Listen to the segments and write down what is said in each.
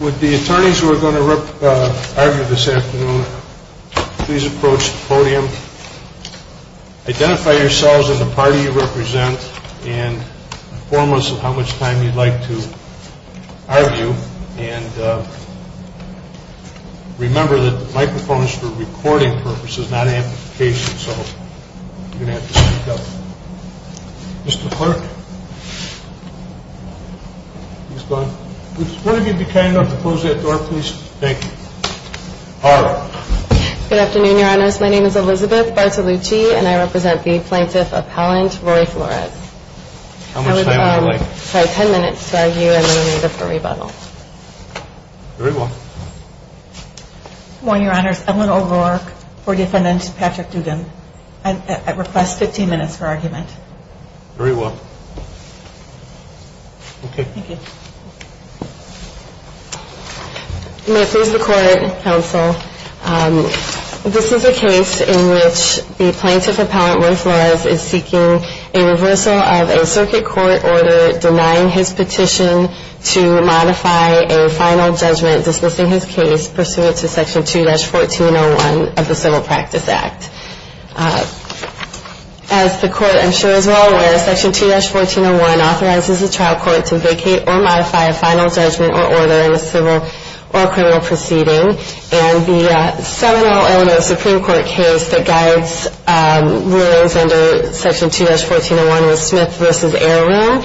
Would the attorneys who are going to argue this afternoon please approach the podium, identify yourselves and the party you represent, and inform us of how much time you'd like to argue, and if you have any questions, please feel free to ask them. Remember that the microphone is for recording purposes, not amplification, so you're going to have to speak up. Mr. Clerk, please go ahead. Would one of you be kind enough to close that door, please? Thank you. All right. Good afternoon, Your Honors. My name is Elizabeth Bartolucci, and I represent the plaintiff appellant, Roy Flores. How much time would you like? Sorry, ten minutes to argue, and then we'll move to the rebuttal. Very well. Good morning, Your Honors. Evelyn O'Rourke, Board of Finance, Patrick Duggan. I request 15 minutes for argument. Very well. Okay. Thank you. May it please the Court, Counsel, this is a case in which the plaintiff appellant, Roy Flores, is seeking a reversal of a circuit court order denying his petition to modify a final judgment dismissing his case pursuant to Section 2-1401 of the Civil Practice Act. As the Court, I'm sure, is well aware, Section 2-1401 authorizes the trial court to vacate or modify a final judgment or order in a civil or criminal proceeding. And the seminal element of the Supreme Court case that guides rulings under Section 2-1401 was Smith v. Ayer Rule.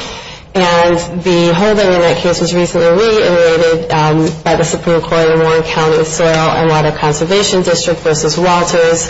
And the holding in that case was recently reiterated by the Supreme Court in Warren County with Soil and Water Conservation District v. Walters.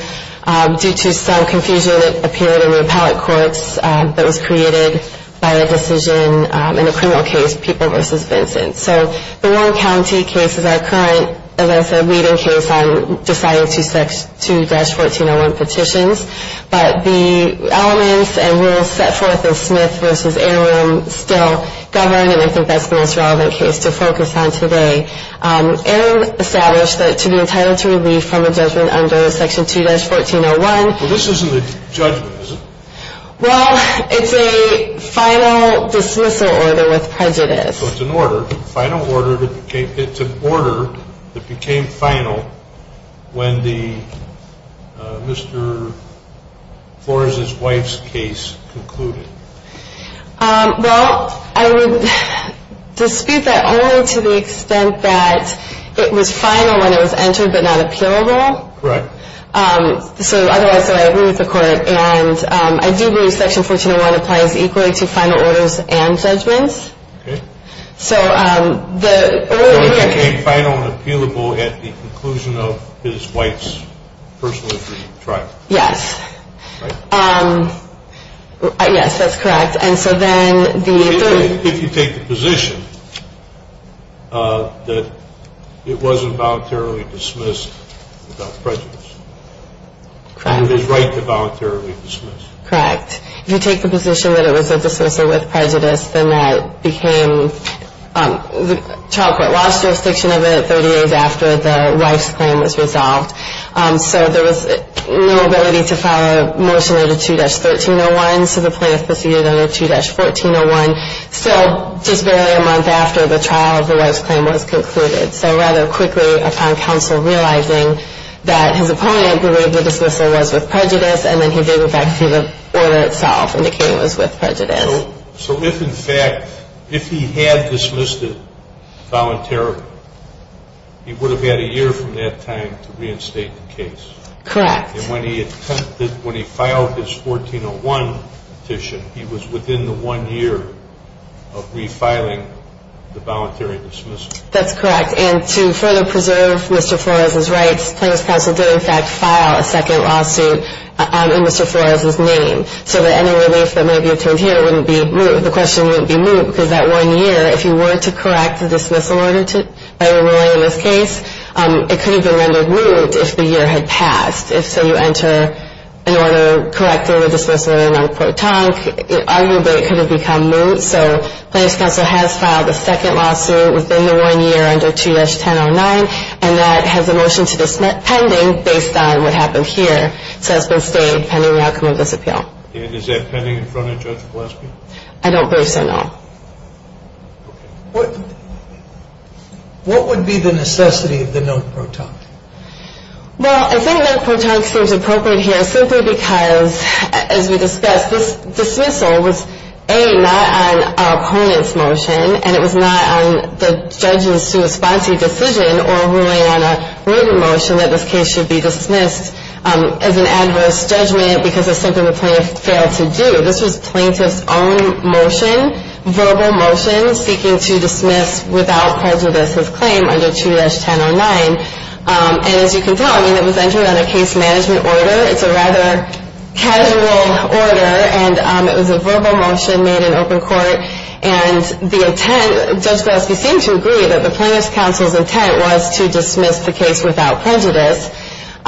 Due to some confusion, it appeared in the appellate courts that was created by a decision in a criminal case, Peoples v. Vincent. So the Warren County case is our current, as I said, leading case on deciding Section 2-1401 petitions. But the elements and rules set forth in Smith v. Ayer Rule still govern, and I think that's the most relevant case to focus on today. Ayer Rule established that to be entitled to relief from a judgment under Section 2-1401. Well, this isn't a judgment, is it? Well, it's a final dismissal order with prejudice. So it's an order that became final when Mr. Flores' wife's case concluded. Well, I would dispute that only to the extent that it was final when it was entered but not appealable. Correct. So, otherwise, I agree with the Court, and I do believe Section 1401 applies equally to final orders and judgments. Okay. So the order here – So it became final and appealable at the conclusion of his wife's personal injury trial. Yes. Right? Yes, that's correct. And so then the – If you take the position that it wasn't voluntarily dismissed without prejudice. Correct. And it is right to voluntarily dismiss. Correct. If you take the position that it was a dismissal with prejudice, then that became – the trial court lost jurisdiction of it 30 days after the wife's claim was resolved. So there was no ability to file a motion under 2-1301, so the plaintiff proceeded under 2-1401. So just barely a month after the trial, the wife's claim was concluded. So rather quickly, upon counsel realizing that his opponent believed the dismissal was with prejudice, and then he gave it back to the order itself, indicating it was with prejudice. So if, in fact, if he had dismissed it voluntarily, he would have had a year from that time to reinstate the case. Correct. And when he attempted – when he filed his 1401 petition, he was within the one year of refiling the voluntary dismissal. That's correct. And to further preserve Mr. Flores' rights, Plaintiff's counsel did, in fact, file a second lawsuit in Mr. Flores' name so that any relief that may be returned here wouldn't be – the question wouldn't be moved, because that one year, if you were to correct the dismissal order by a ruling in this case, it could have been rendered moot if the year had passed. If, say, you enter an order correcting the dismissal in a non-court talk, arguably it could have become moot. So Plaintiff's counsel has filed a second lawsuit within the one year under 2-1009, and that has a motion to dismiss pending based on what happened here. So that's been stayed pending the outcome of this appeal. And is that pending in front of Judge Gillespie? I don't believe so, no. What would be the necessity of the non-court talk? Well, I think non-court talk seems appropriate here simply because, as we discussed, this dismissal was, A, not on our opponent's motion, and it was not on the judge's response to the decision or really on a written motion that this case should be dismissed as an adverse judgment because it's something the plaintiff failed to do. This was plaintiff's own motion, verbal motion, seeking to dismiss without prejudice his claim under 2-1009. And as you can tell, I mean, it was entered on a case management order. It's a rather casual order, and it was a verbal motion made in open court. And the intent, Judge Gillespie seemed to agree that the plaintiff's counsel's intent was to dismiss the case without prejudice.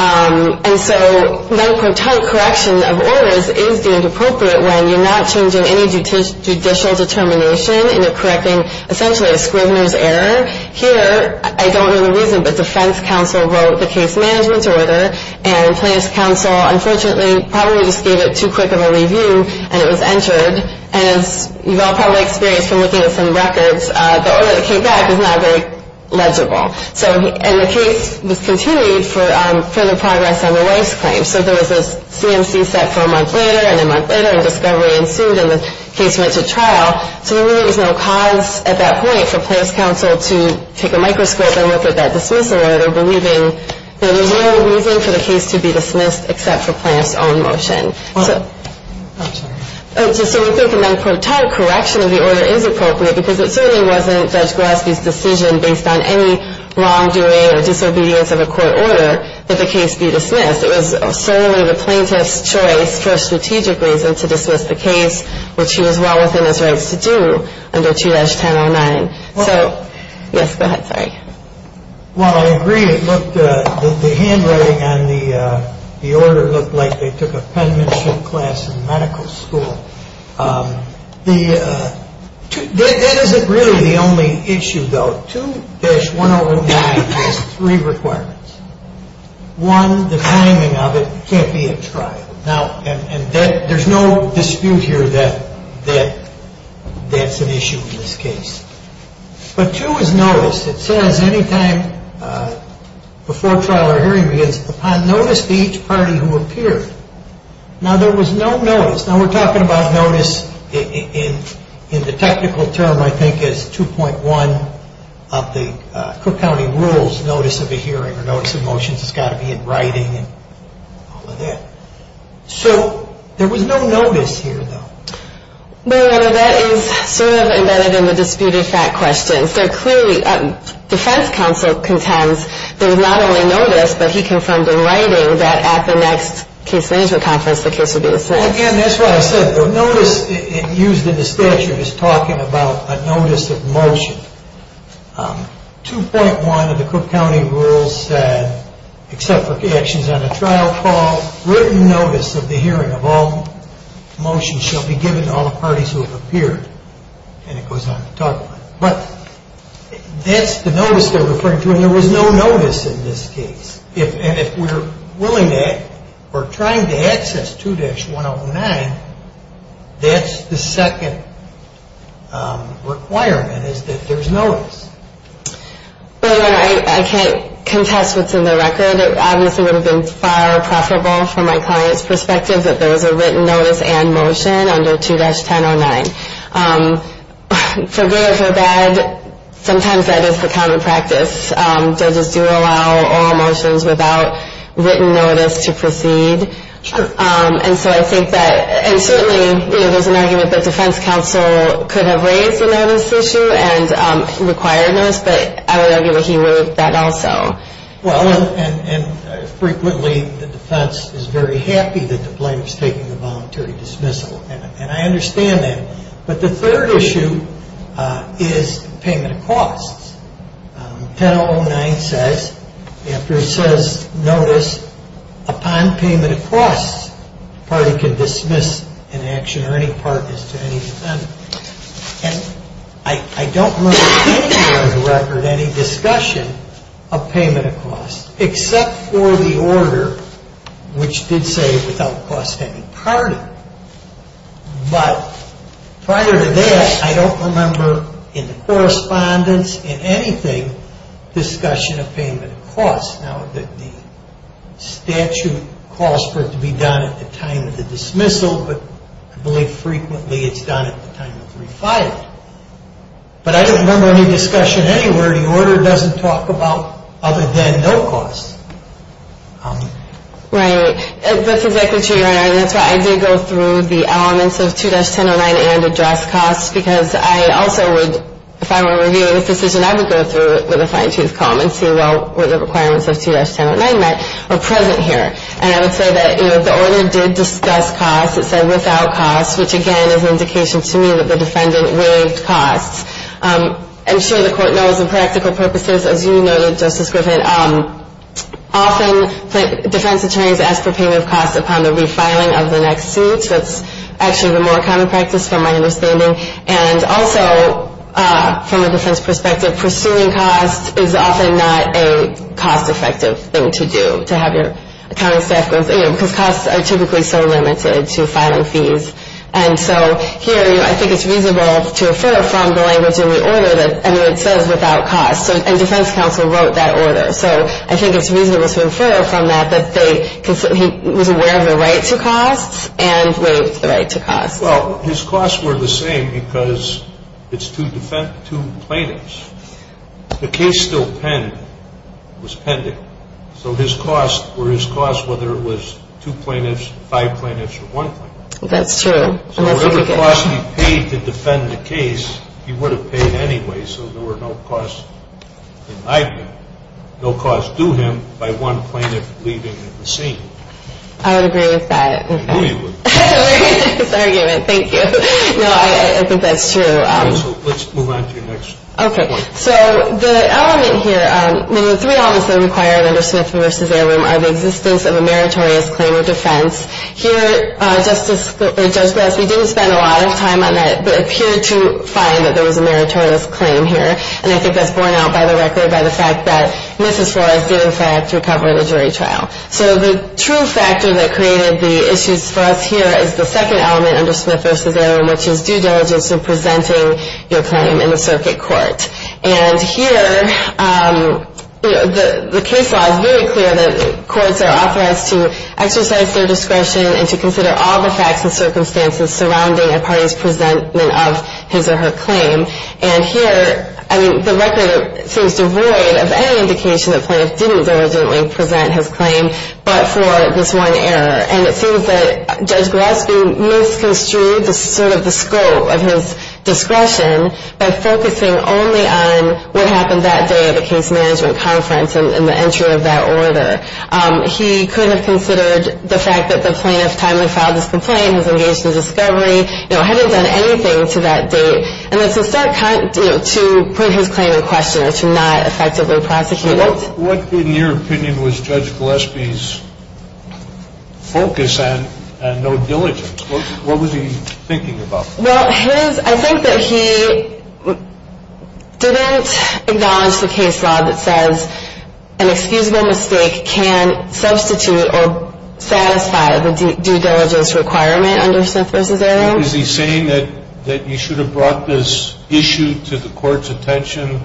And so non-court talk correction of orders is deemed appropriate when you're not changing any judicial determination and you're correcting essentially a scrivener's error. Here, I don't know the reason, but defense counsel wrote the case management's order, and plaintiff's counsel, unfortunately, probably just gave it too quick of a review, and it was entered. And as you've all probably experienced from looking at some records, the order that came back is not very legible. And the case was continued for further progress on the wife's claim. So there was a CMC set for a month later, and a month later, and discovery ensued, and the case went to trial. So there really was no cause at that point for plaintiff's counsel to take a microscope and look at that dismissal order, believing that there's no reason for the case to be dismissed except for plaintiff's own motion. So non-court talk correction of the order is appropriate because it certainly wasn't Judge Golaski's decision based on any wrongdoing or disobedience of a court order that the case be dismissed. It was solely the plaintiff's choice for a strategic reason to dismiss the case, which he was well within his rights to do under 2-1009. So, yes, go ahead. Sorry. Well, I agree. Look, the handwriting on the order looked like they took a penmanship class in medical school. That isn't really the only issue, though. 2-1009 has three requirements. One, the timing of it can't be at trial. Now, and there's no dispute here that that's an issue in this case. But two is notice. It says anytime before trial or hearing begins, upon notice to each party who appeared. Now, there was no notice. Now, we're talking about notice in the technical term, I think, as 2.1 of the Cook County Rules notice of a hearing or notice of motions. It's got to be in writing and all of that. So there was no notice here, though. Well, that is sort of embedded in the disputed fact question. So clearly, defense counsel contends there was not only notice, but he confirmed in writing that at the next case management conference the case would be dismissed. Well, again, that's what I said. The notice used in the statute is talking about a notice of motion. 2.1 of the Cook County Rules said, except for actions on a trial call, written notice of the hearing of all motions shall be given to all the parties who have appeared. And it goes on to talk about it. But that's the notice they're referring to, and there was no notice in this case. If we're trying to access 2-109, that's the second requirement, is that there's notice. Well, again, I can't contest what's in the record. It obviously would have been far more preferable from my client's perspective that there was a written notice and motion under 2-1009. For good or for bad, sometimes that is the common practice. Judges do allow all motions without written notice to proceed. Sure. And so I think that, and certainly there's an argument that defense counsel could have raised the notice issue and required notice, but I would argue that he moved that also. Well, and frequently the defense is very happy that the plaintiff's taking the voluntary dismissal, and I understand that. But the third issue is payment of costs. 2-1009 says, after it says notice, upon payment of costs, the party can dismiss an action or any partners to any defendant. And I don't remember anywhere in the record any discussion of payment of costs, except for the order, which did say without cost to any party. But prior to that, I don't remember in the correspondence, in anything, discussion of payment of costs. Now, the statute calls for it to be done at the time of the dismissal, but I believe frequently it's done at the time of refiling. But I don't remember any discussion anywhere. The order doesn't talk about other than no cost. Right. That's exactly true, Your Honor, and that's why I did go through the elements of 2-1009 and address costs, because I also would, if I were reviewing this decision, I would go through it with a fine-tooth comb and see, well, what the requirements of 2-1009 meant are present here. And I would say that, you know, the order did discuss costs. It said without costs, which, again, is an indication to me that the defendant waived costs. I'm sure the court knows the practical purposes. As you noted, Justice Griffin, often defense attorneys ask for payment of costs upon the refiling of the next suit. That's actually the more common practice, from my understanding. And also, from a defense perspective, pursuing costs is often not a cost-effective thing to do, to have your accounting staff go through, you know, because costs are typically so limited to filing fees. And so here, I think it's reasonable to refer from the language in the order that, I mean, it says without costs. And defense counsel wrote that order. So I think it's reasonable to refer from that that they, because he was aware of the right to costs and waived the right to costs. Well, his costs were the same because it's two plaintiffs. The case still was pending. So his costs were his costs, whether it was two plaintiffs, five plaintiffs, or one plaintiff. That's true. So whatever costs he paid to defend the case, he would have paid anyway, so there were no costs denied to him, no costs due him by one plaintiff leaving the scene. I would agree with that. I knew you would. We're getting into this argument. Thank you. No, I think that's true. So let's move on to your next one. Okay. So the element here, the three elements that are required under Smith v. Arum are the existence of a meritorious claim of defense. Here, Judge Grassley didn't spend a lot of time on that, but appeared to find that there was a meritorious claim here. And I think that's borne out by the record by the fact that Mrs. Flores did, in fact, recover the jury trial. So the true factor that created the issues for us here is the second element under Smith v. Arum, which is due diligence in presenting your claim in the circuit court. And here, the case law is very clear that courts are authorized to exercise their discretion and to consider all the facts and circumstances surrounding a party's presentment of his or her claim. And here, I mean, the record seems devoid of any indication that Plaintiff didn't diligently present his claim but for this one error. And it seems that Judge Gillespie misconstrued sort of the scope of his discretion by focusing only on what happened that day at the case management conference and the entry of that order. He could have considered the fact that the plaintiff timely filed his complaint, was engaged in discovery, you know, hadn't done anything to that date. And it's a set kind, you know, to put his claim in question or to not effectively prosecute it. What, in your opinion, was Judge Gillespie's focus on no diligence? What was he thinking about? Well, I think that he didn't acknowledge the case law that says an excusable mistake can substitute or satisfy the due diligence requirement under Smith v. Arum. Is he saying that you should have brought this issue to the court's attention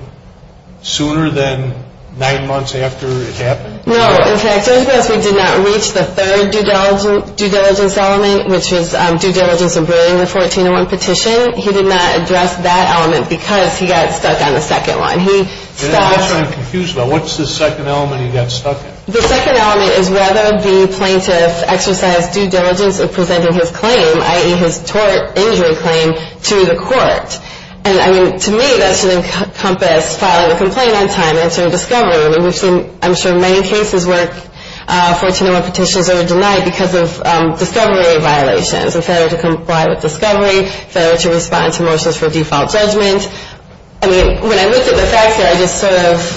sooner than nine months after it happened? No. In fact, Judge Gillespie did not reach the third due diligence element, which was due diligence in bringing the 1401 petition. He did not address that element because he got stuck on the second one. And that's what I'm confused about. What's the second element he got stuck in? The second element is whether the plaintiff exercised due diligence in presenting his claim, i.e., his tort injury claim, to the court. And, I mean, to me, that should encompass filing a complaint on time, answering discovery. I mean, we've seen, I'm sure, many cases where 1401 petitions are denied because of discovery violations, and failure to comply with discovery, failure to respond to motions for default judgment. I mean, when I looked at the facts here, I just sort of,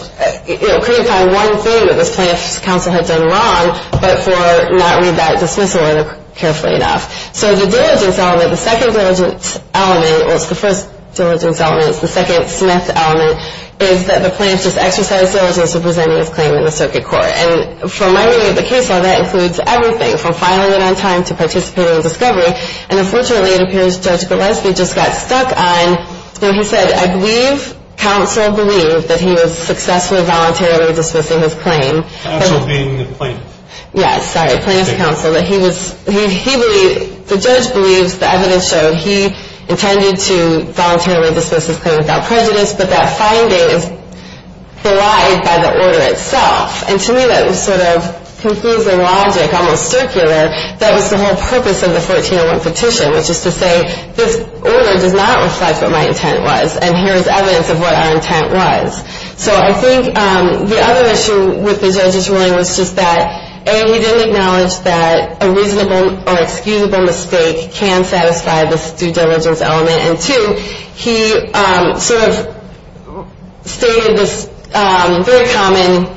you know, couldn't find one thing that this plaintiff's counsel had done wrong but for not read that dismissal order carefully enough. So the diligence element, the second diligence element, well, it's the first diligence element, it's the second Smith element, is that the plaintiff's exercised due diligence in presenting his claim in the circuit court. And from my reading of the case law, that includes everything from filing it on time to participating in discovery. And, unfortunately, it appears Judge Gillespie just got stuck on, you know, he said, I believe counsel believed that he was successfully voluntarily dismissing his claim. Counsel being the plaintiff. Yes, sorry, plaintiff's counsel, that he was, he believed, the judge believes, the evidence showed he intended to voluntarily dismiss his claim without prejudice, but that finding is belied by the order itself. And, to me, that was sort of confusing logic, almost circular. That was the whole purpose of the 1401 petition, which is to say, this order does not reflect what my intent was, and here is evidence of what our intent was. So I think the other issue with the judge's ruling was just that, A, he didn't acknowledge that a reasonable or excusable mistake can satisfy this due diligence element, and, two, he sort of stated this very common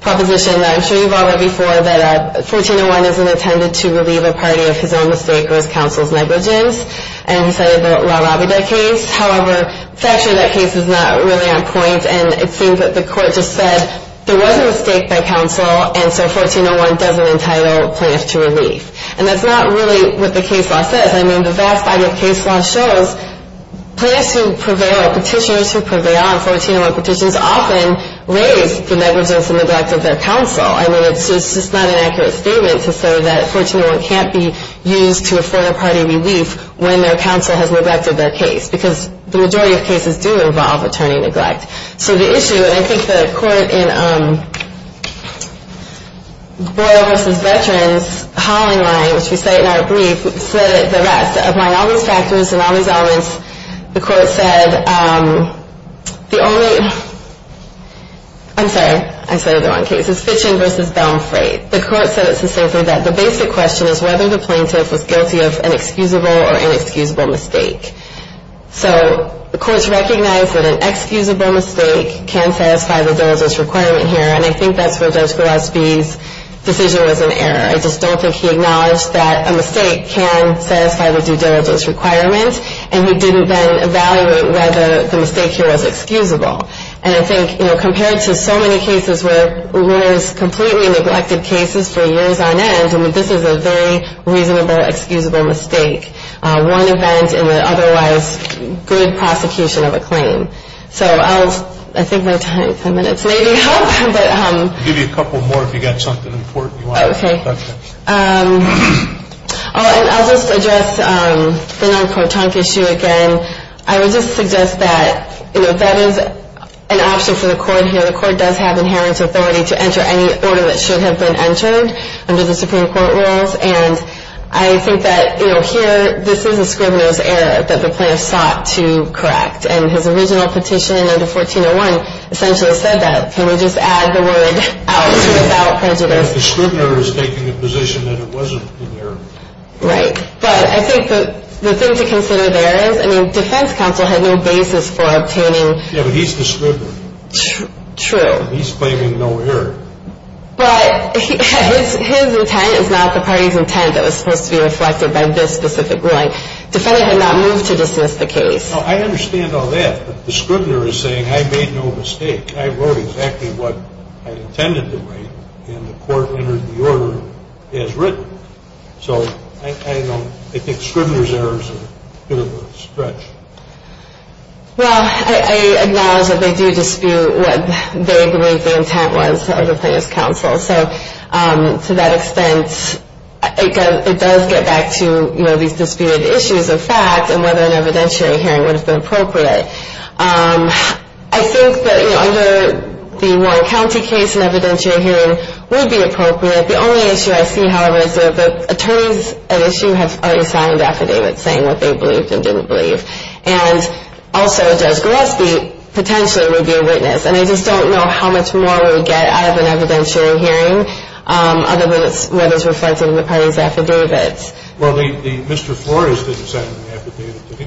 proposition that I'm sure you've all heard before, that 1401 isn't intended to relieve a party of his own mistake or his counsel's negligence, and he cited the LaRavida case. However, factually, that case is not really on point, and it seems that the court just said there was a mistake by counsel, and so 1401 doesn't entitle plaintiffs to relief. And that's not really what the case law says. I mean, the vast body of case law shows plaintiffs who prevail, or petitioners who prevail on 1401 petitions often raise the negligence and neglect of their counsel. I mean, it's just not an accurate statement to say that 1401 can't be used to afford a party relief when their counsel has neglected their case, because the majority of cases do involve attorney neglect. So the issue, and I think the court in Boyle v. Veterans' hollowing line, which we cite in our brief, said that the rest, of all these factors and all these elements, the court said the only, I'm sorry, I said it the wrong case. It's Fitchin v. Baumfreid. The court said specifically that the basic question is whether the plaintiff was guilty of an excusable or inexcusable mistake. So the courts recognize that an excusable mistake can satisfy the dose requirement here, and I think that's where Judge Gillespie's decision was in error. I just don't think he acknowledged that a mistake can satisfy the due diligence requirement, and he didn't then evaluate whether the mistake here was excusable. And I think, you know, compared to so many cases where there's completely neglected cases for years on end, I mean, this is a very reasonable excusable mistake, one event in the otherwise good prosecution of a claim. So I'll, I think my time, 10 minutes, maybe. I'll give you a couple more if you've got something important. Okay. I'll just address the non-court trunk issue again. I would just suggest that, you know, that is an option for the court here. The court does have inherent authority to enter any order that should have been entered under the Supreme Court rules, and I think that, you know, here, this is a scrivener's error that the plaintiff sought to correct, and his original petition under 1401 essentially said that. Can we just add the word out to without prejudice? The scrivener is taking a position that it wasn't an error. Right. But I think the thing to consider there is, I mean, defense counsel had no basis for obtaining. Yeah, but he's the scrivener. True. He's claiming no error. But his intent is not the party's intent that was supposed to be reflected by this specific ruling. Defendant had not moved to dismiss the case. Well, I understand all that, but the scrivener is saying, I made no mistake. I wrote exactly what I intended to write, and the court entered the order as written. So I don't – I think scrivener's errors are a bit of a stretch. Well, I acknowledge that they do dispute what they believe the intent was of the plaintiff's counsel. So to that extent, it does get back to, you know, these disputed issues of fact and whether an evidentiary hearing would have been appropriate. I think that, you know, under the Warren County case, an evidentiary hearing would be appropriate. The only issue I see, however, is that the attorneys at issue have already signed affidavits saying what they believed and didn't believe. And also Judge Gillespie potentially would be a witness. And I just don't know how much more we would get out of an evidentiary hearing other than whether it's reflected in the party's affidavits. Well, Mr. Flores didn't sign an affidavit, did he?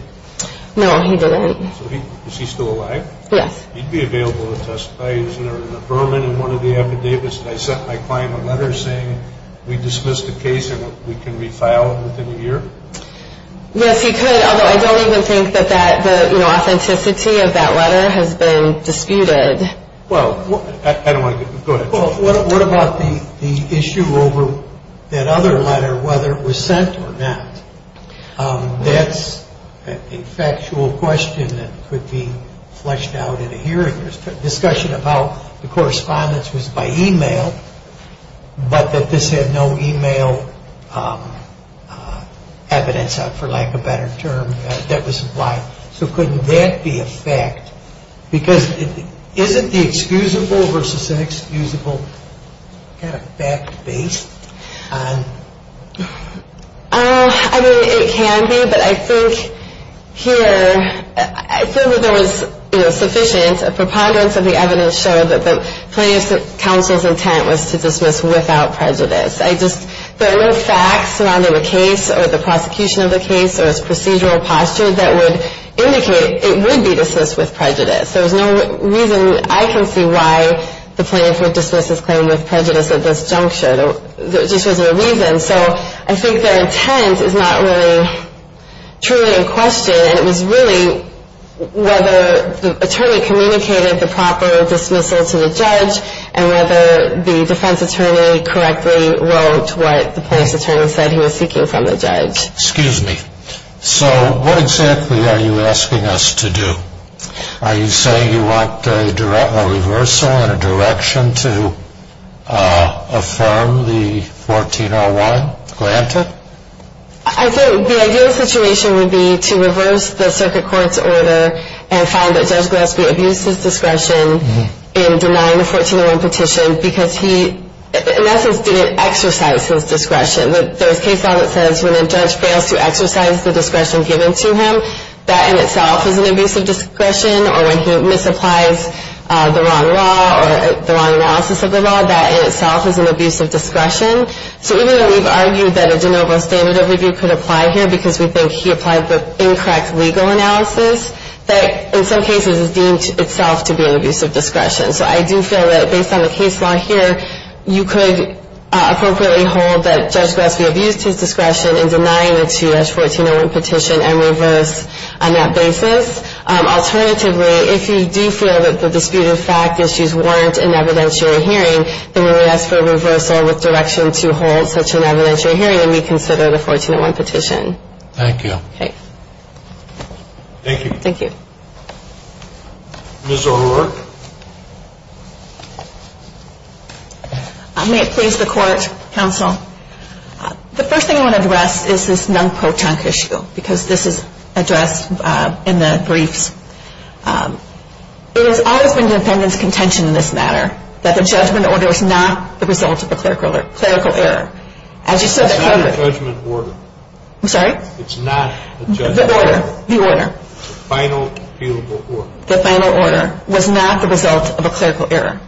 No, he didn't. So is he still alive? Yes. He'd be available to testify. Isn't there an affirmative in one of the affidavits that I sent my client a letter saying, we dismissed the case and we can refile it within a year? Yes, he could, although I don't even think that the, you know, authenticity of that letter has been disputed. Well, I don't want to get – go ahead. Well, what about the issue over that other letter, whether it was sent or not? That's a factual question that could be fleshed out in a hearing. There's discussion about the correspondence was by e-mail, but that this had no e-mail evidence, for lack of a better term, that was implied. So couldn't that be a fact? Because isn't the excusable versus inexcusable kind of fact-based? I mean, it can be, but I think here – I feel that there was, you know, sufficient – a preponderance of the evidence showed that the plaintiff's counsel's intent was to dismiss without prejudice. I just – there were no facts surrounding the case or the prosecution of the case or its procedural posture that would indicate it would be dismissed with prejudice. There was no reason I can see why the plaintiff would dismiss his claim with prejudice at this juncture. There just wasn't a reason. So I think their intent is not really truly in question, and it was really whether the attorney communicated the proper dismissal to the judge and whether the defense attorney correctly wrote what the police attorney said he was seeking from the judge. Excuse me. So what exactly are you asking us to do? Are you saying you want a reversal and a direction to affirm the 1401? Glanta? I think the ideal situation would be to reverse the circuit court's order and find that Judge Gillespie abused his discretion in denying the 1401 petition because he, in essence, didn't exercise his discretion. There's case law that says when a judge fails to exercise the discretion given to him, that in itself is an abuse of discretion, or when he misapplies the wrong law or the wrong analysis of the law, that in itself is an abuse of discretion. So even though we've argued that a de novo standard of review could apply here because we think he applied the incorrect legal analysis, that in some cases is deemed itself to be an abuse of discretion. So I do feel that based on the case law here, you could appropriately hold that Judge Gillespie abused his discretion in denying the 2-H 1401 petition and reverse on that basis. Alternatively, if you do feel that the disputed fact issues warrant an evidentiary hearing, then we would ask for a reversal with direction to hold such an evidentiary hearing and reconsider the 1401 petition. Thank you. Okay. Thank you. Thank you. Ms. O'Rourke? May it please the Court, Counsel? The first thing I want to address is this non-pro-tunk issue because this is addressed in the briefs. There has always been defendant's contention in this matter that the judgment order is not the result of a clerical error. As you said earlier. It's not a judgment order. I'm sorry? It's not a judgment order. The order. The order. The final fealable order. The final order was not the result of a clerical error.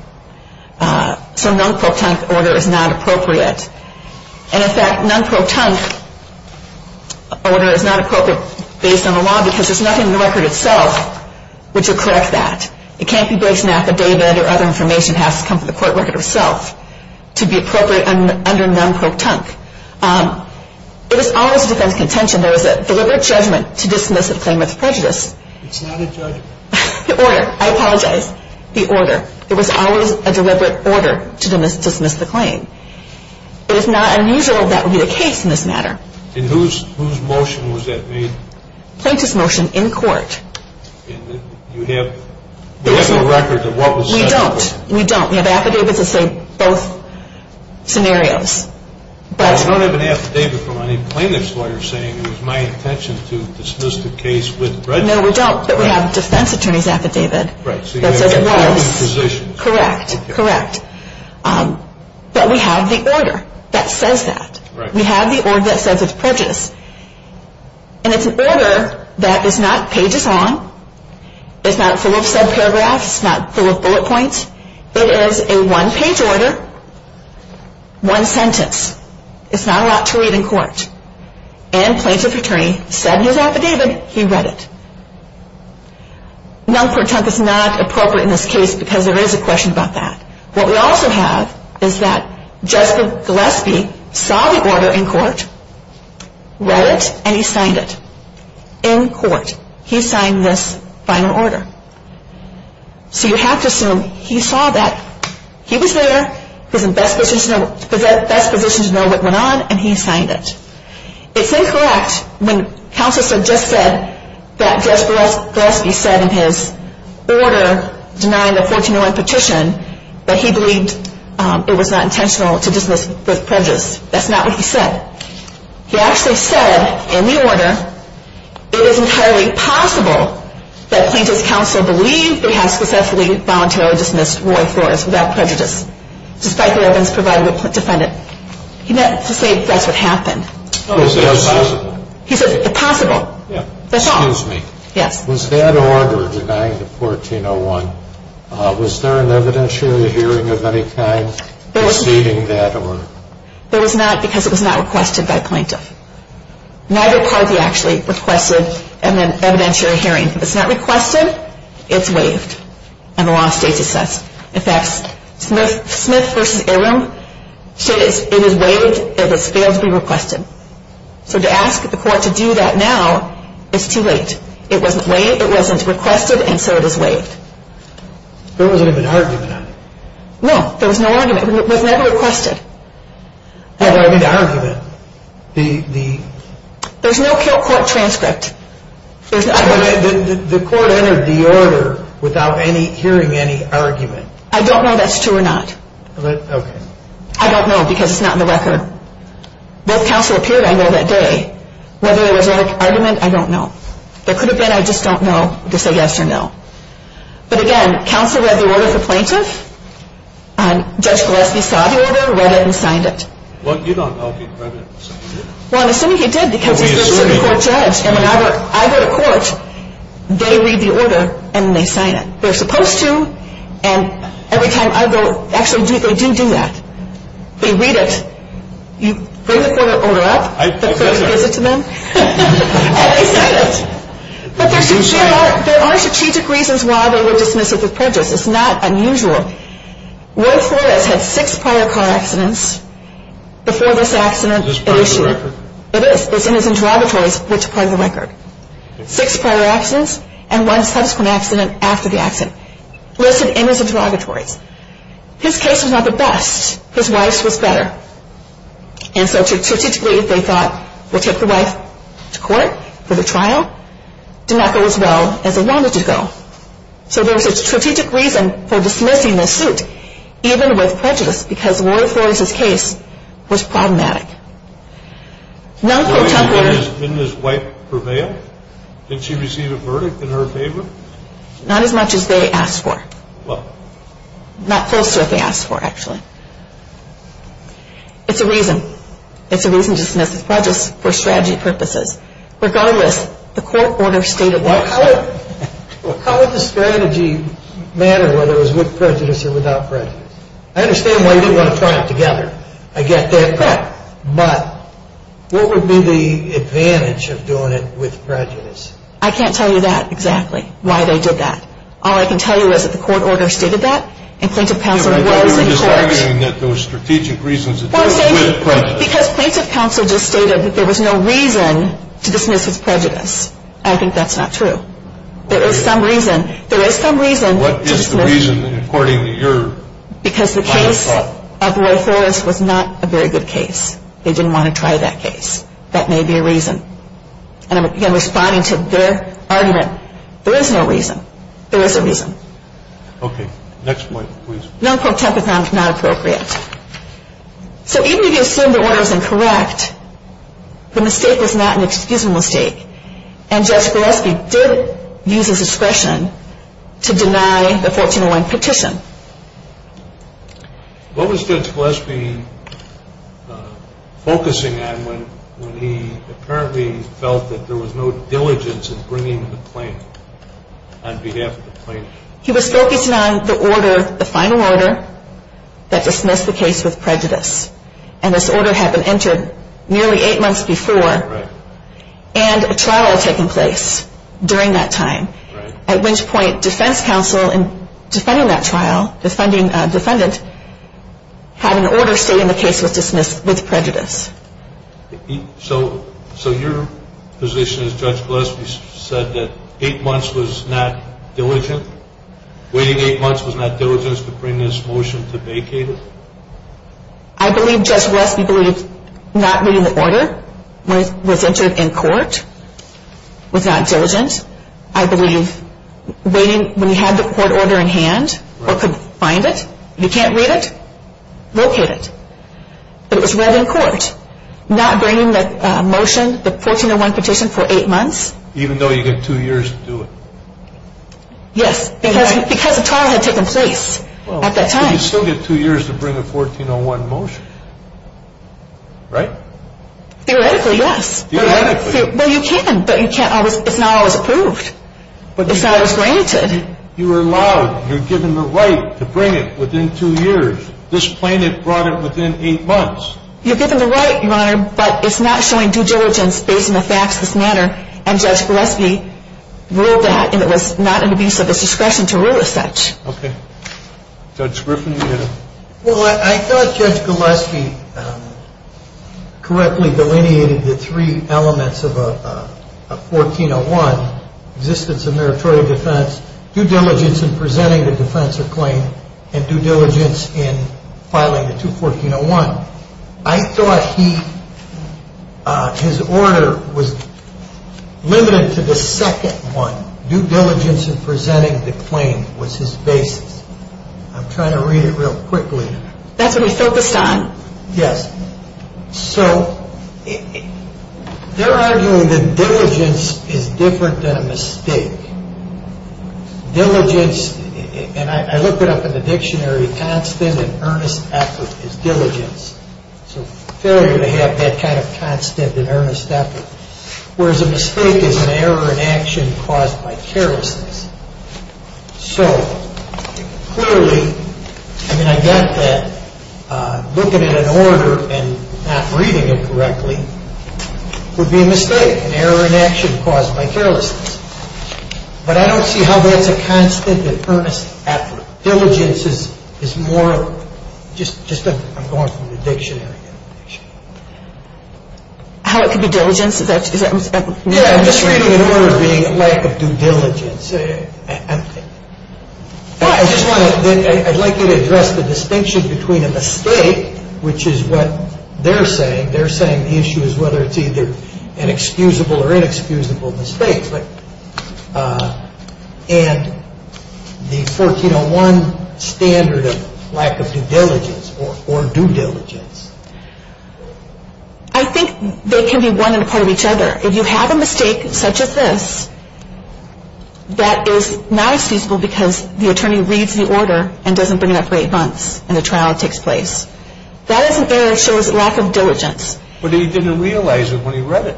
So non-pro-tunk order is not appropriate. And, in fact, non-pro-tunk order is not appropriate based on the law because there's nothing in the record itself which would correct that. It can't be based on affidavit or other information. It has to come from the court record itself to be appropriate under non-pro-tunk. It is always a defendant's contention. There is a deliberate judgment to dismiss a claimant's prejudice. It's not a judgment. The order. I apologize. The order. There was always a deliberate order to dismiss the claim. It is not unusual that would be the case in this matter. And whose motion was that made? Plaintiff's motion in court. And you have the record of what was said? We don't. We don't. We have affidavits that say both scenarios. I don't have an affidavit from any plaintiff's lawyer saying it was my intention to dismiss the case with prejudice. No, we don't, but we have a defense attorney's affidavit that says it was. Correct, correct. But we have the order that says that. We have the order that says it's prejudice. And it's an order that is not pages long. It's not full of subparagraphs. It's not full of bullet points. It is a one-page order, one sentence. It's not allowed to read in court. And plaintiff's attorney said in his affidavit he read it. Now, it's not appropriate in this case because there is a question about that. What we also have is that Justin Gillespie saw the order in court, read it, and he signed it in court. He signed this final order. So you have to assume he saw that. He was there. He was in the best position to know what went on, and he signed it. It's incorrect when counsel just said that Judge Gillespie said in his order denying the 1401 petition that he believed it was not intentional to dismiss with prejudice. That's not what he said. He actually said in the order it is entirely possible that plaintiff's counsel believed that he had successfully voluntarily dismissed Roy Flores without prejudice, despite the evidence provided by the defendant. He meant to say that's what happened. He said it's possible. That's all. Excuse me. Yes. Was that order denying the 1401, was there an evidentiary hearing of any kind preceding that? There was not because it was not requested by plaintiff. Neither party actually requested an evidentiary hearing. If it's not requested, it's waived. And the law states it says. In fact, Smith v. Arum says it is waived if it fails to be requested. So to ask the court to do that now is too late. It wasn't requested, and so it is waived. There wasn't even an argument on it. No, there was no argument. It was never requested. There was no argument. There's no court transcript. The court entered the order without hearing any argument. I don't know that's true or not. Okay. I don't know because it's not in the record. If counsel appeared, I know that day. Whether there was an argument, I don't know. There could have been, I just don't know to say yes or no. But, again, counsel read the order to plaintiff. Judge Gillespie saw the order, read it, and signed it. Well, you don't know if he read it and signed it. Well, I'm assuming he did because he's a Supreme Court judge. And when I go to court, they read the order and they sign it. They're supposed to, and every time I go, actually, they do do that. They read it. You bring the order up, the court gives it to them, and they sign it. But there are strategic reasons why they would dismiss it with prejudice. It's not unusual. Roy Flores had six prior car accidents before this accident. Is this part of the record? It is. It's in his interrogatories, which part of the record. Six prior accidents and one subsequent accident after the accident. Listed in his interrogatories. His case was not the best. His wife's was better. And so strategically, they thought, we'll take the wife to court for the trial. Did not go as well as they wanted it to go. So there was a strategic reason for dismissing this suit, even with prejudice, because Roy Flores' case was problematic. Did his wife prevail? Did she receive a verdict in her favor? Not as much as they asked for. What? Not close to what they asked for, actually. It's a reason. It's a reason to dismiss it with prejudice for strategy purposes. Regardless, the court order stated that. How would the strategy matter whether it was with prejudice or without prejudice? I understand why you didn't want to try it together. I get that. Correct. But what would be the advantage of doing it with prejudice? I can't tell you that exactly, why they did that. All I can tell you is that the court order stated that, and plaintiff counsel was in court. But you're just arguing that those strategic reasons are different with prejudice. Because plaintiff counsel just stated that there was no reason to dismiss with prejudice. I think that's not true. There is some reason. There is some reason to dismiss. What is the reason, according to your kind of thought? Because the case of Roy Flores was not a very good case. They didn't want to try that case. That may be a reason. And again, responding to their argument, there is no reason. There is a reason. Okay. Next point, please. Non-protemporathon is not appropriate. So even if you assume the order is incorrect, the mistake is not an excusable mistake. And Judge Gillespie did use his discretion to deny the 1401 petition. What was Judge Gillespie focusing on when he apparently felt that there was no diligence in bringing the claim on behalf of the plaintiff? He was focusing on the order, the final order, that dismissed the case with prejudice. And this order had been entered nearly eight months before. Right. And a trial had taken place during that time. Right. At which point, defense counsel in defending that trial, the defendant, had an order stating the case was dismissed with prejudice. So your position is Judge Gillespie said that eight months was not diligent? Waiting eight months was not diligent to bring this motion to vacate it? I believe Judge Gillespie believed not reading the order when it was entered in court was not diligent. I believe when you had the court order in hand or could find it, you can't read it, locate it. But it was read in court. Not bringing the motion, the 1401 petition, for eight months. Even though you get two years to do it? Yes, because a trial had taken place at that time. But you still get two years to bring a 1401 motion, right? Theoretically, yes. Theoretically. Well, you can, but it's not always approved. It's not always granted. You are allowed, you're given the right to bring it within two years. This plaintiff brought it within eight months. You're given the right, Your Honor, but it's not showing due diligence based on the facts of this matter. And Judge Gillespie ruled that. And it was not in the best of his discretion to rule as such. Okay. Judge Griffin, you had a... Well, I thought Judge Gillespie correctly delineated the three elements of a 1401. Existence of meritorious defense, due diligence in presenting the defense or claim, and due diligence in filing the 21401. I thought he, his order was limited to the second one. Due diligence in presenting the claim was his basis. I'm trying to read it real quickly. That's what he focused on? Yes. So, they're arguing that diligence is different than a mistake. Diligence, and I looked it up in the dictionary, constant and earnest effort is diligence. So failure to have that kind of constant and earnest effort. Whereas a mistake is an error in action caused by carelessness. So, clearly, I mean, I get that looking at an order and not reading it correctly would be a mistake. An error in action caused by carelessness. But I don't see how that's a constant and earnest effort. Diligence is more, just, I'm going from the dictionary. How it could be diligence? Yeah, I'm just reading an order being a lack of due diligence. I just want to, I'd like you to address the distinction between a mistake, which is what they're saying. They're saying the issue is whether it's either an excusable or inexcusable mistake. And the 1401 standard of lack of due diligence or due diligence. I think they can be one and a part of each other. If you have a mistake such as this, that is not excusable because the attorney reads the order and doesn't bring it up for eight months and the trial takes place. That is an error that shows lack of diligence. But he didn't realize it when he read it.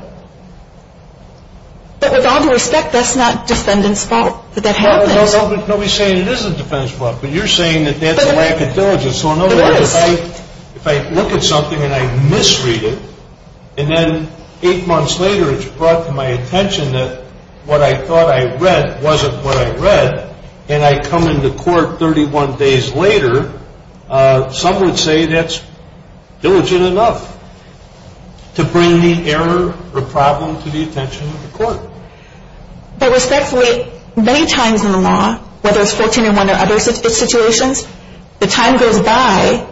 But with all due respect, that's not defendant's fault that that happened. No, no, nobody's saying it is the defendant's fault. But you're saying that that's a lack of diligence. If I look at something and I misread it, and then eight months later it's brought to my attention that what I thought I read wasn't what I read, and I come into court 31 days later, some would say that's diligent enough to bring the error or problem to the attention of the court. But respectfully, many times in the law, whether it's 1401 or other situations, the time goes by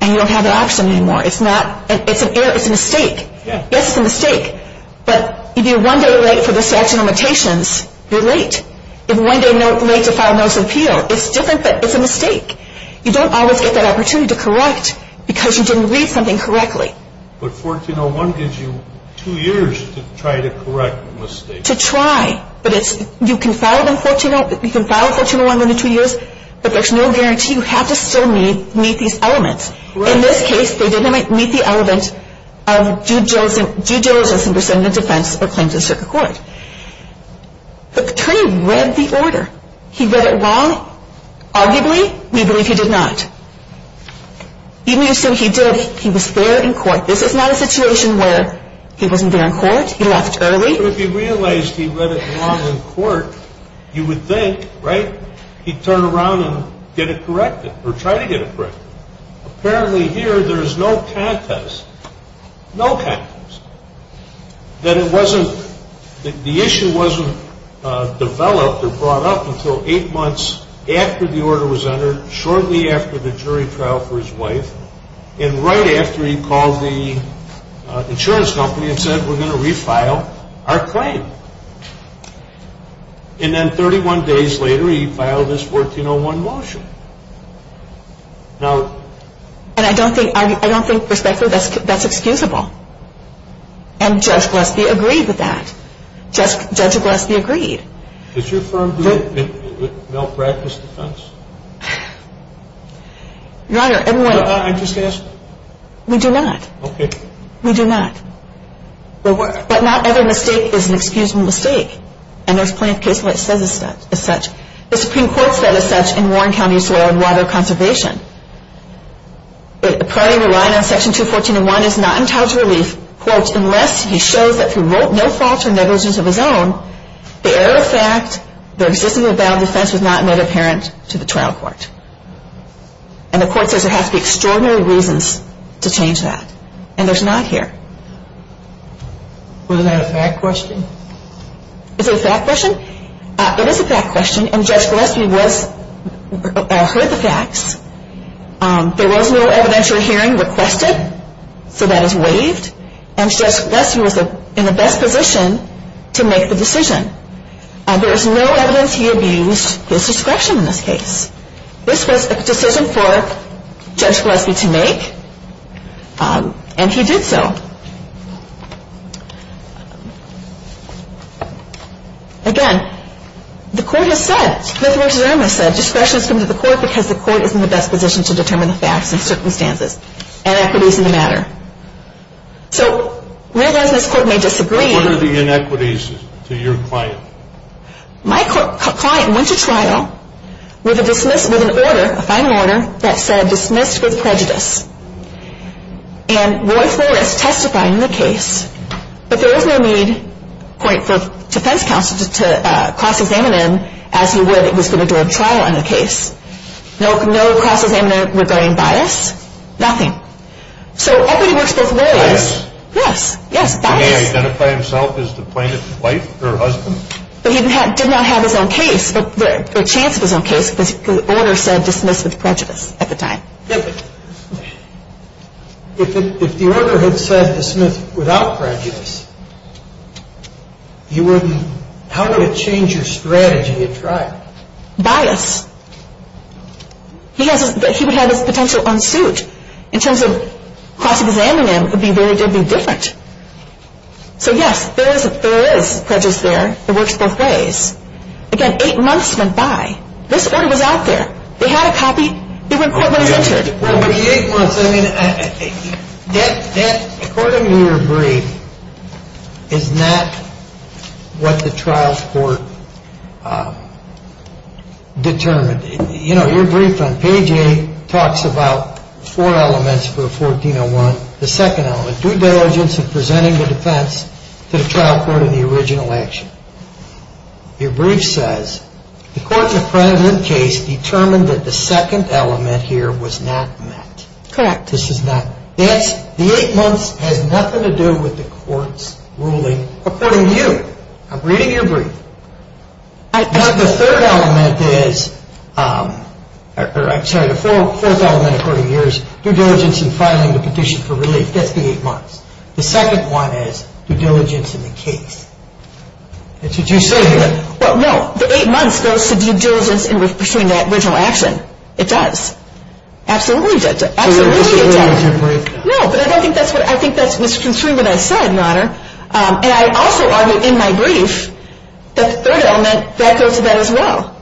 and you don't have the option anymore. It's an error. It's a mistake. Yes, it's a mistake. But if you're one day late for the statute of limitations, you're late. If you're one day late to file a notice of appeal, it's different, but it's a mistake. You don't always get that opportunity to correct because you didn't read something correctly. But 1401 gives you two years to try to correct a mistake. To try. You can file 1401 within two years, but there's no guarantee. You have to still meet these elements. In this case, they didn't meet the element of due diligence in presenting a defense or claims in circuit court. But the attorney read the order. He read it wrong. Arguably, we believe he did not. Even if so, he did. He was there in court. This is not a situation where he wasn't there in court. He left early. But if he realized he read it wrong in court, you would think, right, he'd turn around and get it corrected or try to get it corrected. Apparently here, there's no contest. No contest. That it wasn't, the issue wasn't developed or brought up until eight months after the order was entered, shortly after the jury trial for his wife, and right after he called the insurance company and said, we're going to refile our claim. And then 31 days later, he filed this 1401 motion. And I don't think, perspectively, that's excusable. And Judge Gillespie agreed with that. Judge Gillespie agreed. Does your firm do it with malpractice defense? Your Honor, everyone. We do not. Okay. We do not. But not every mistake is an excusable mistake. And there's plenty of cases where it says it's such. The Supreme Court said it's such in Warren County's law on water conservation. It primarily relied on Section 214. And one is not entitled to relief, quote, unless he shows that through no fault or negligence of his own, the error of fact, the existence of a valid defense was not made apparent to the trial court. And the court says there have to be extraordinary reasons to change that. And there's not here. Wasn't that a fact question? Is it a fact question? It is a fact question. And Judge Gillespie heard the facts. There was no evidentiary hearing requested. So that is waived. And Judge Gillespie was in the best position to make the decision. There is no evidence he abused his discretion in this case. This was a decision for Judge Gillespie to make. And he did so. Again, the court has said, Clifford v. Irma said discretion has come to the court because the court is in the best position to determine the facts and circumstances and equities in the matter. So where does this court may disagree? What are the inequities to your client? My client went to trial with a dismissal, with an order, a final order that said dismissed with prejudice. And Roy Forrest testified in the case. But there is no need for defense counsel to cross-examine him as he would if he was going to do a trial on the case. No cross-examination regarding bias. Nothing. So equity works both ways. Bias. Yes, yes, bias. He may identify himself as the plaintiff's wife or husband. But he did not have his own case, the chance of his own case, because the order said dismiss with prejudice at the time. If the order had said dismiss without prejudice, you wouldn't, how would it change your strategy at trial? Bias. He would have his potential on suit. In terms of cross-examining him, it would be very different. So, yes, there is prejudice there. It works both ways. Again, eight months went by. This order was out there. They had a copy. They were in court when it was entered. Well, but the eight months, I mean, that, according to your brief, is not what the trial court determined. You know, your brief on page 8 talks about four elements for a 1401. The second element, due diligence in presenting the defense to the trial court in the original action. Your brief says the court's appropriate case determined that the second element here was not met. Correct. This is not, that's, the eight months has nothing to do with the court's ruling according to you. I'm reading your brief. Now, the third element is, or I'm sorry, the fourth element according to you is due diligence in filing the petition for relief. That's the eight months. The second one is due diligence in the case. That's what you said here. Well, no, the eight months goes to due diligence in pursuing that original action. It does. Absolutely it does. Absolutely it does. No, but I don't think that's what, I think that's misconstruing what I said, Your Honor. And I also argue in my brief that the third element, that goes to that as well.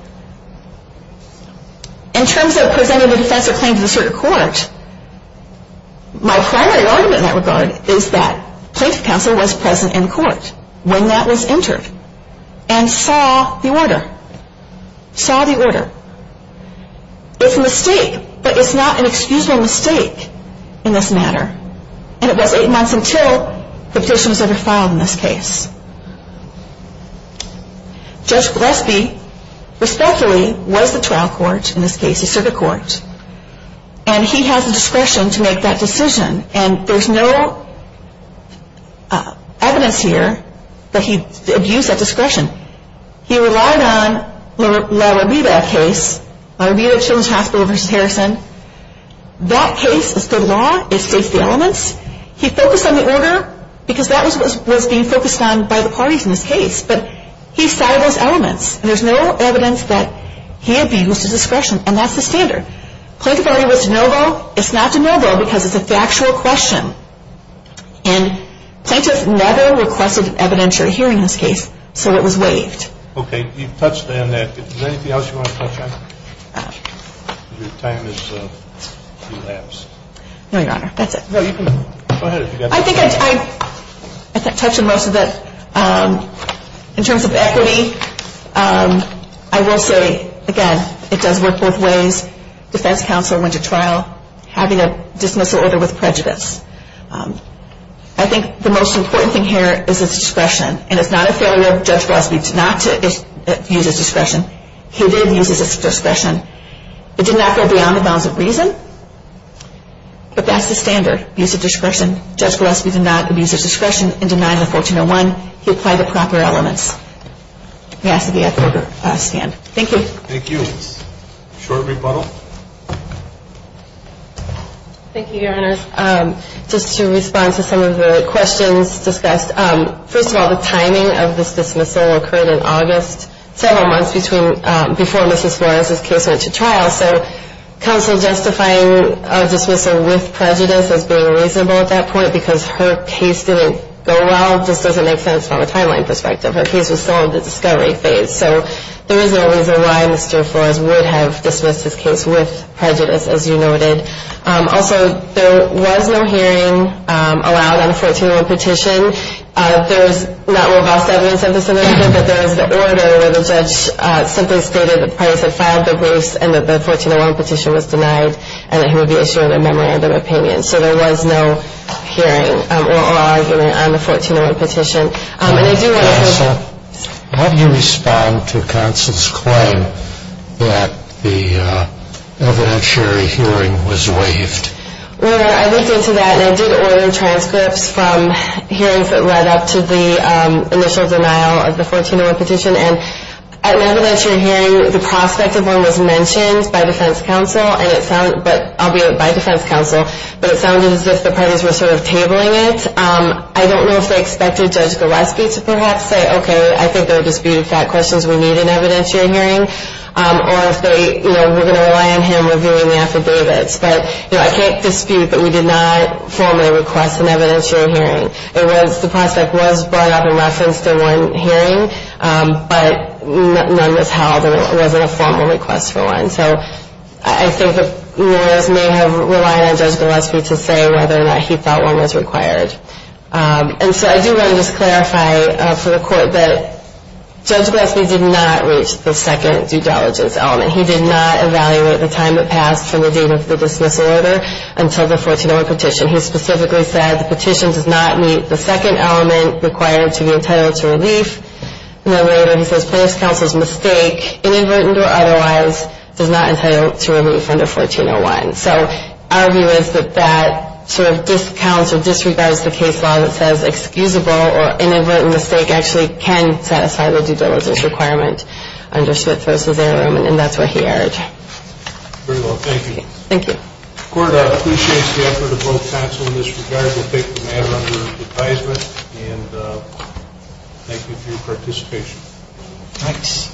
In terms of presenting the defense or claim to the circuit court, my primary argument in that regard is that plaintiff counsel was present in court when that was entered and saw the order. Saw the order. It's a mistake, but it's not an excusable mistake in this matter. And it was eight months until the petition was overfiled in this case. Judge Gillespie respectfully was the trial court in this case, the circuit court. And he has the discretion to make that decision. And there's no evidence here that he abused that discretion. He relied on La Robita case, La Robita Children's Hospital v. Harrison. That case is good law. It states the elements. He focused on the order because that was being focused on by the parties in this case. But he saw those elements. And there's no evidence that he abused his discretion. And that's the standard. Plaintiff argued it was de novo. It's not de novo because it's a factual question. And plaintiff never requested an evidentiary hearing in this case, so it was waived. Okay. You've touched on that. Is there anything else you want to touch on? Your time has elapsed. No, Your Honor. That's it. Go ahead. I think I've touched on most of it. In terms of equity, I will say, again, it does work both ways. Defense counsel went to trial having a dismissal order with prejudice. I think the most important thing here is its discretion. And it's not a failure of Judge Gillespie not to use his discretion. He did use his discretion. It did not go beyond the bounds of reason. But that's the standard, use of discretion. Judge Gillespie did not abuse his discretion and did not have a 1401. He applied the proper elements. He has to be at the order stand. Thank you. Thank you. Short rebuttal. Thank you, Your Honors. Just to respond to some of the questions discussed, first of all, the timing of this dismissal occurred in August, several months before Mrs. Morris's case went to trial. So counsel justifying a dismissal with prejudice as being reasonable at that point because her case didn't go well just doesn't make sense from a timeline perspective. Her case was still in the discovery phase. So there is no reason why Mr. Flores would have dismissed his case with prejudice, as you noted. Also, there was no hearing allowed on the 1401 petition. There was not robust evidence of this in the record, but there is the order where the judge simply stated that the parties had filed their briefs and that the 1401 petition was denied and that he would be issuing a memorandum of opinion. So there was no hearing or argument on the 1401 petition. Counsel, how do you respond to counsel's claim that the evidentiary hearing was waived? Well, I looked into that, and I did order transcripts from hearings that led up to the initial denial of the 1401 petition. And at an evidentiary hearing, the prospect of one was mentioned by defense counsel, but it sounded as if the parties were sort of tabling it. I don't know if they expected Judge Goreski to perhaps say, okay, I think there are disputed fact questions we need in an evidentiary hearing, or if they were going to rely on him reviewing the affidavits. But I can't dispute that we did not formally request an evidentiary hearing. The prospect was brought up in reference to one hearing, but none was held and it wasn't a formal request for one. So I think the lawyers may have relied on Judge Goreski to say whether or not he felt one was required. And so I do want to just clarify for the Court that Judge Goreski did not reach the second due diligence element. He did not evaluate the time that passed from the date of the dismissal order until the 1401 petition. He specifically said the petition does not meet the second element required to be entitled to relief. And then later he says plaintiff's counsel's mistake, inadvertent or otherwise, does not entitle to relief under 1401. So our view is that that sort of discounts or disregards the case law that says excusable or inadvertent mistake and that he actually can satisfy the due diligence requirement under Smith v. Arrowman and that's what he urged. Very well. Thank you. Thank you. The Court appreciates the effort of both counsel in this regard. We'll take the matter under advisement and thank you for your participation. Thanks.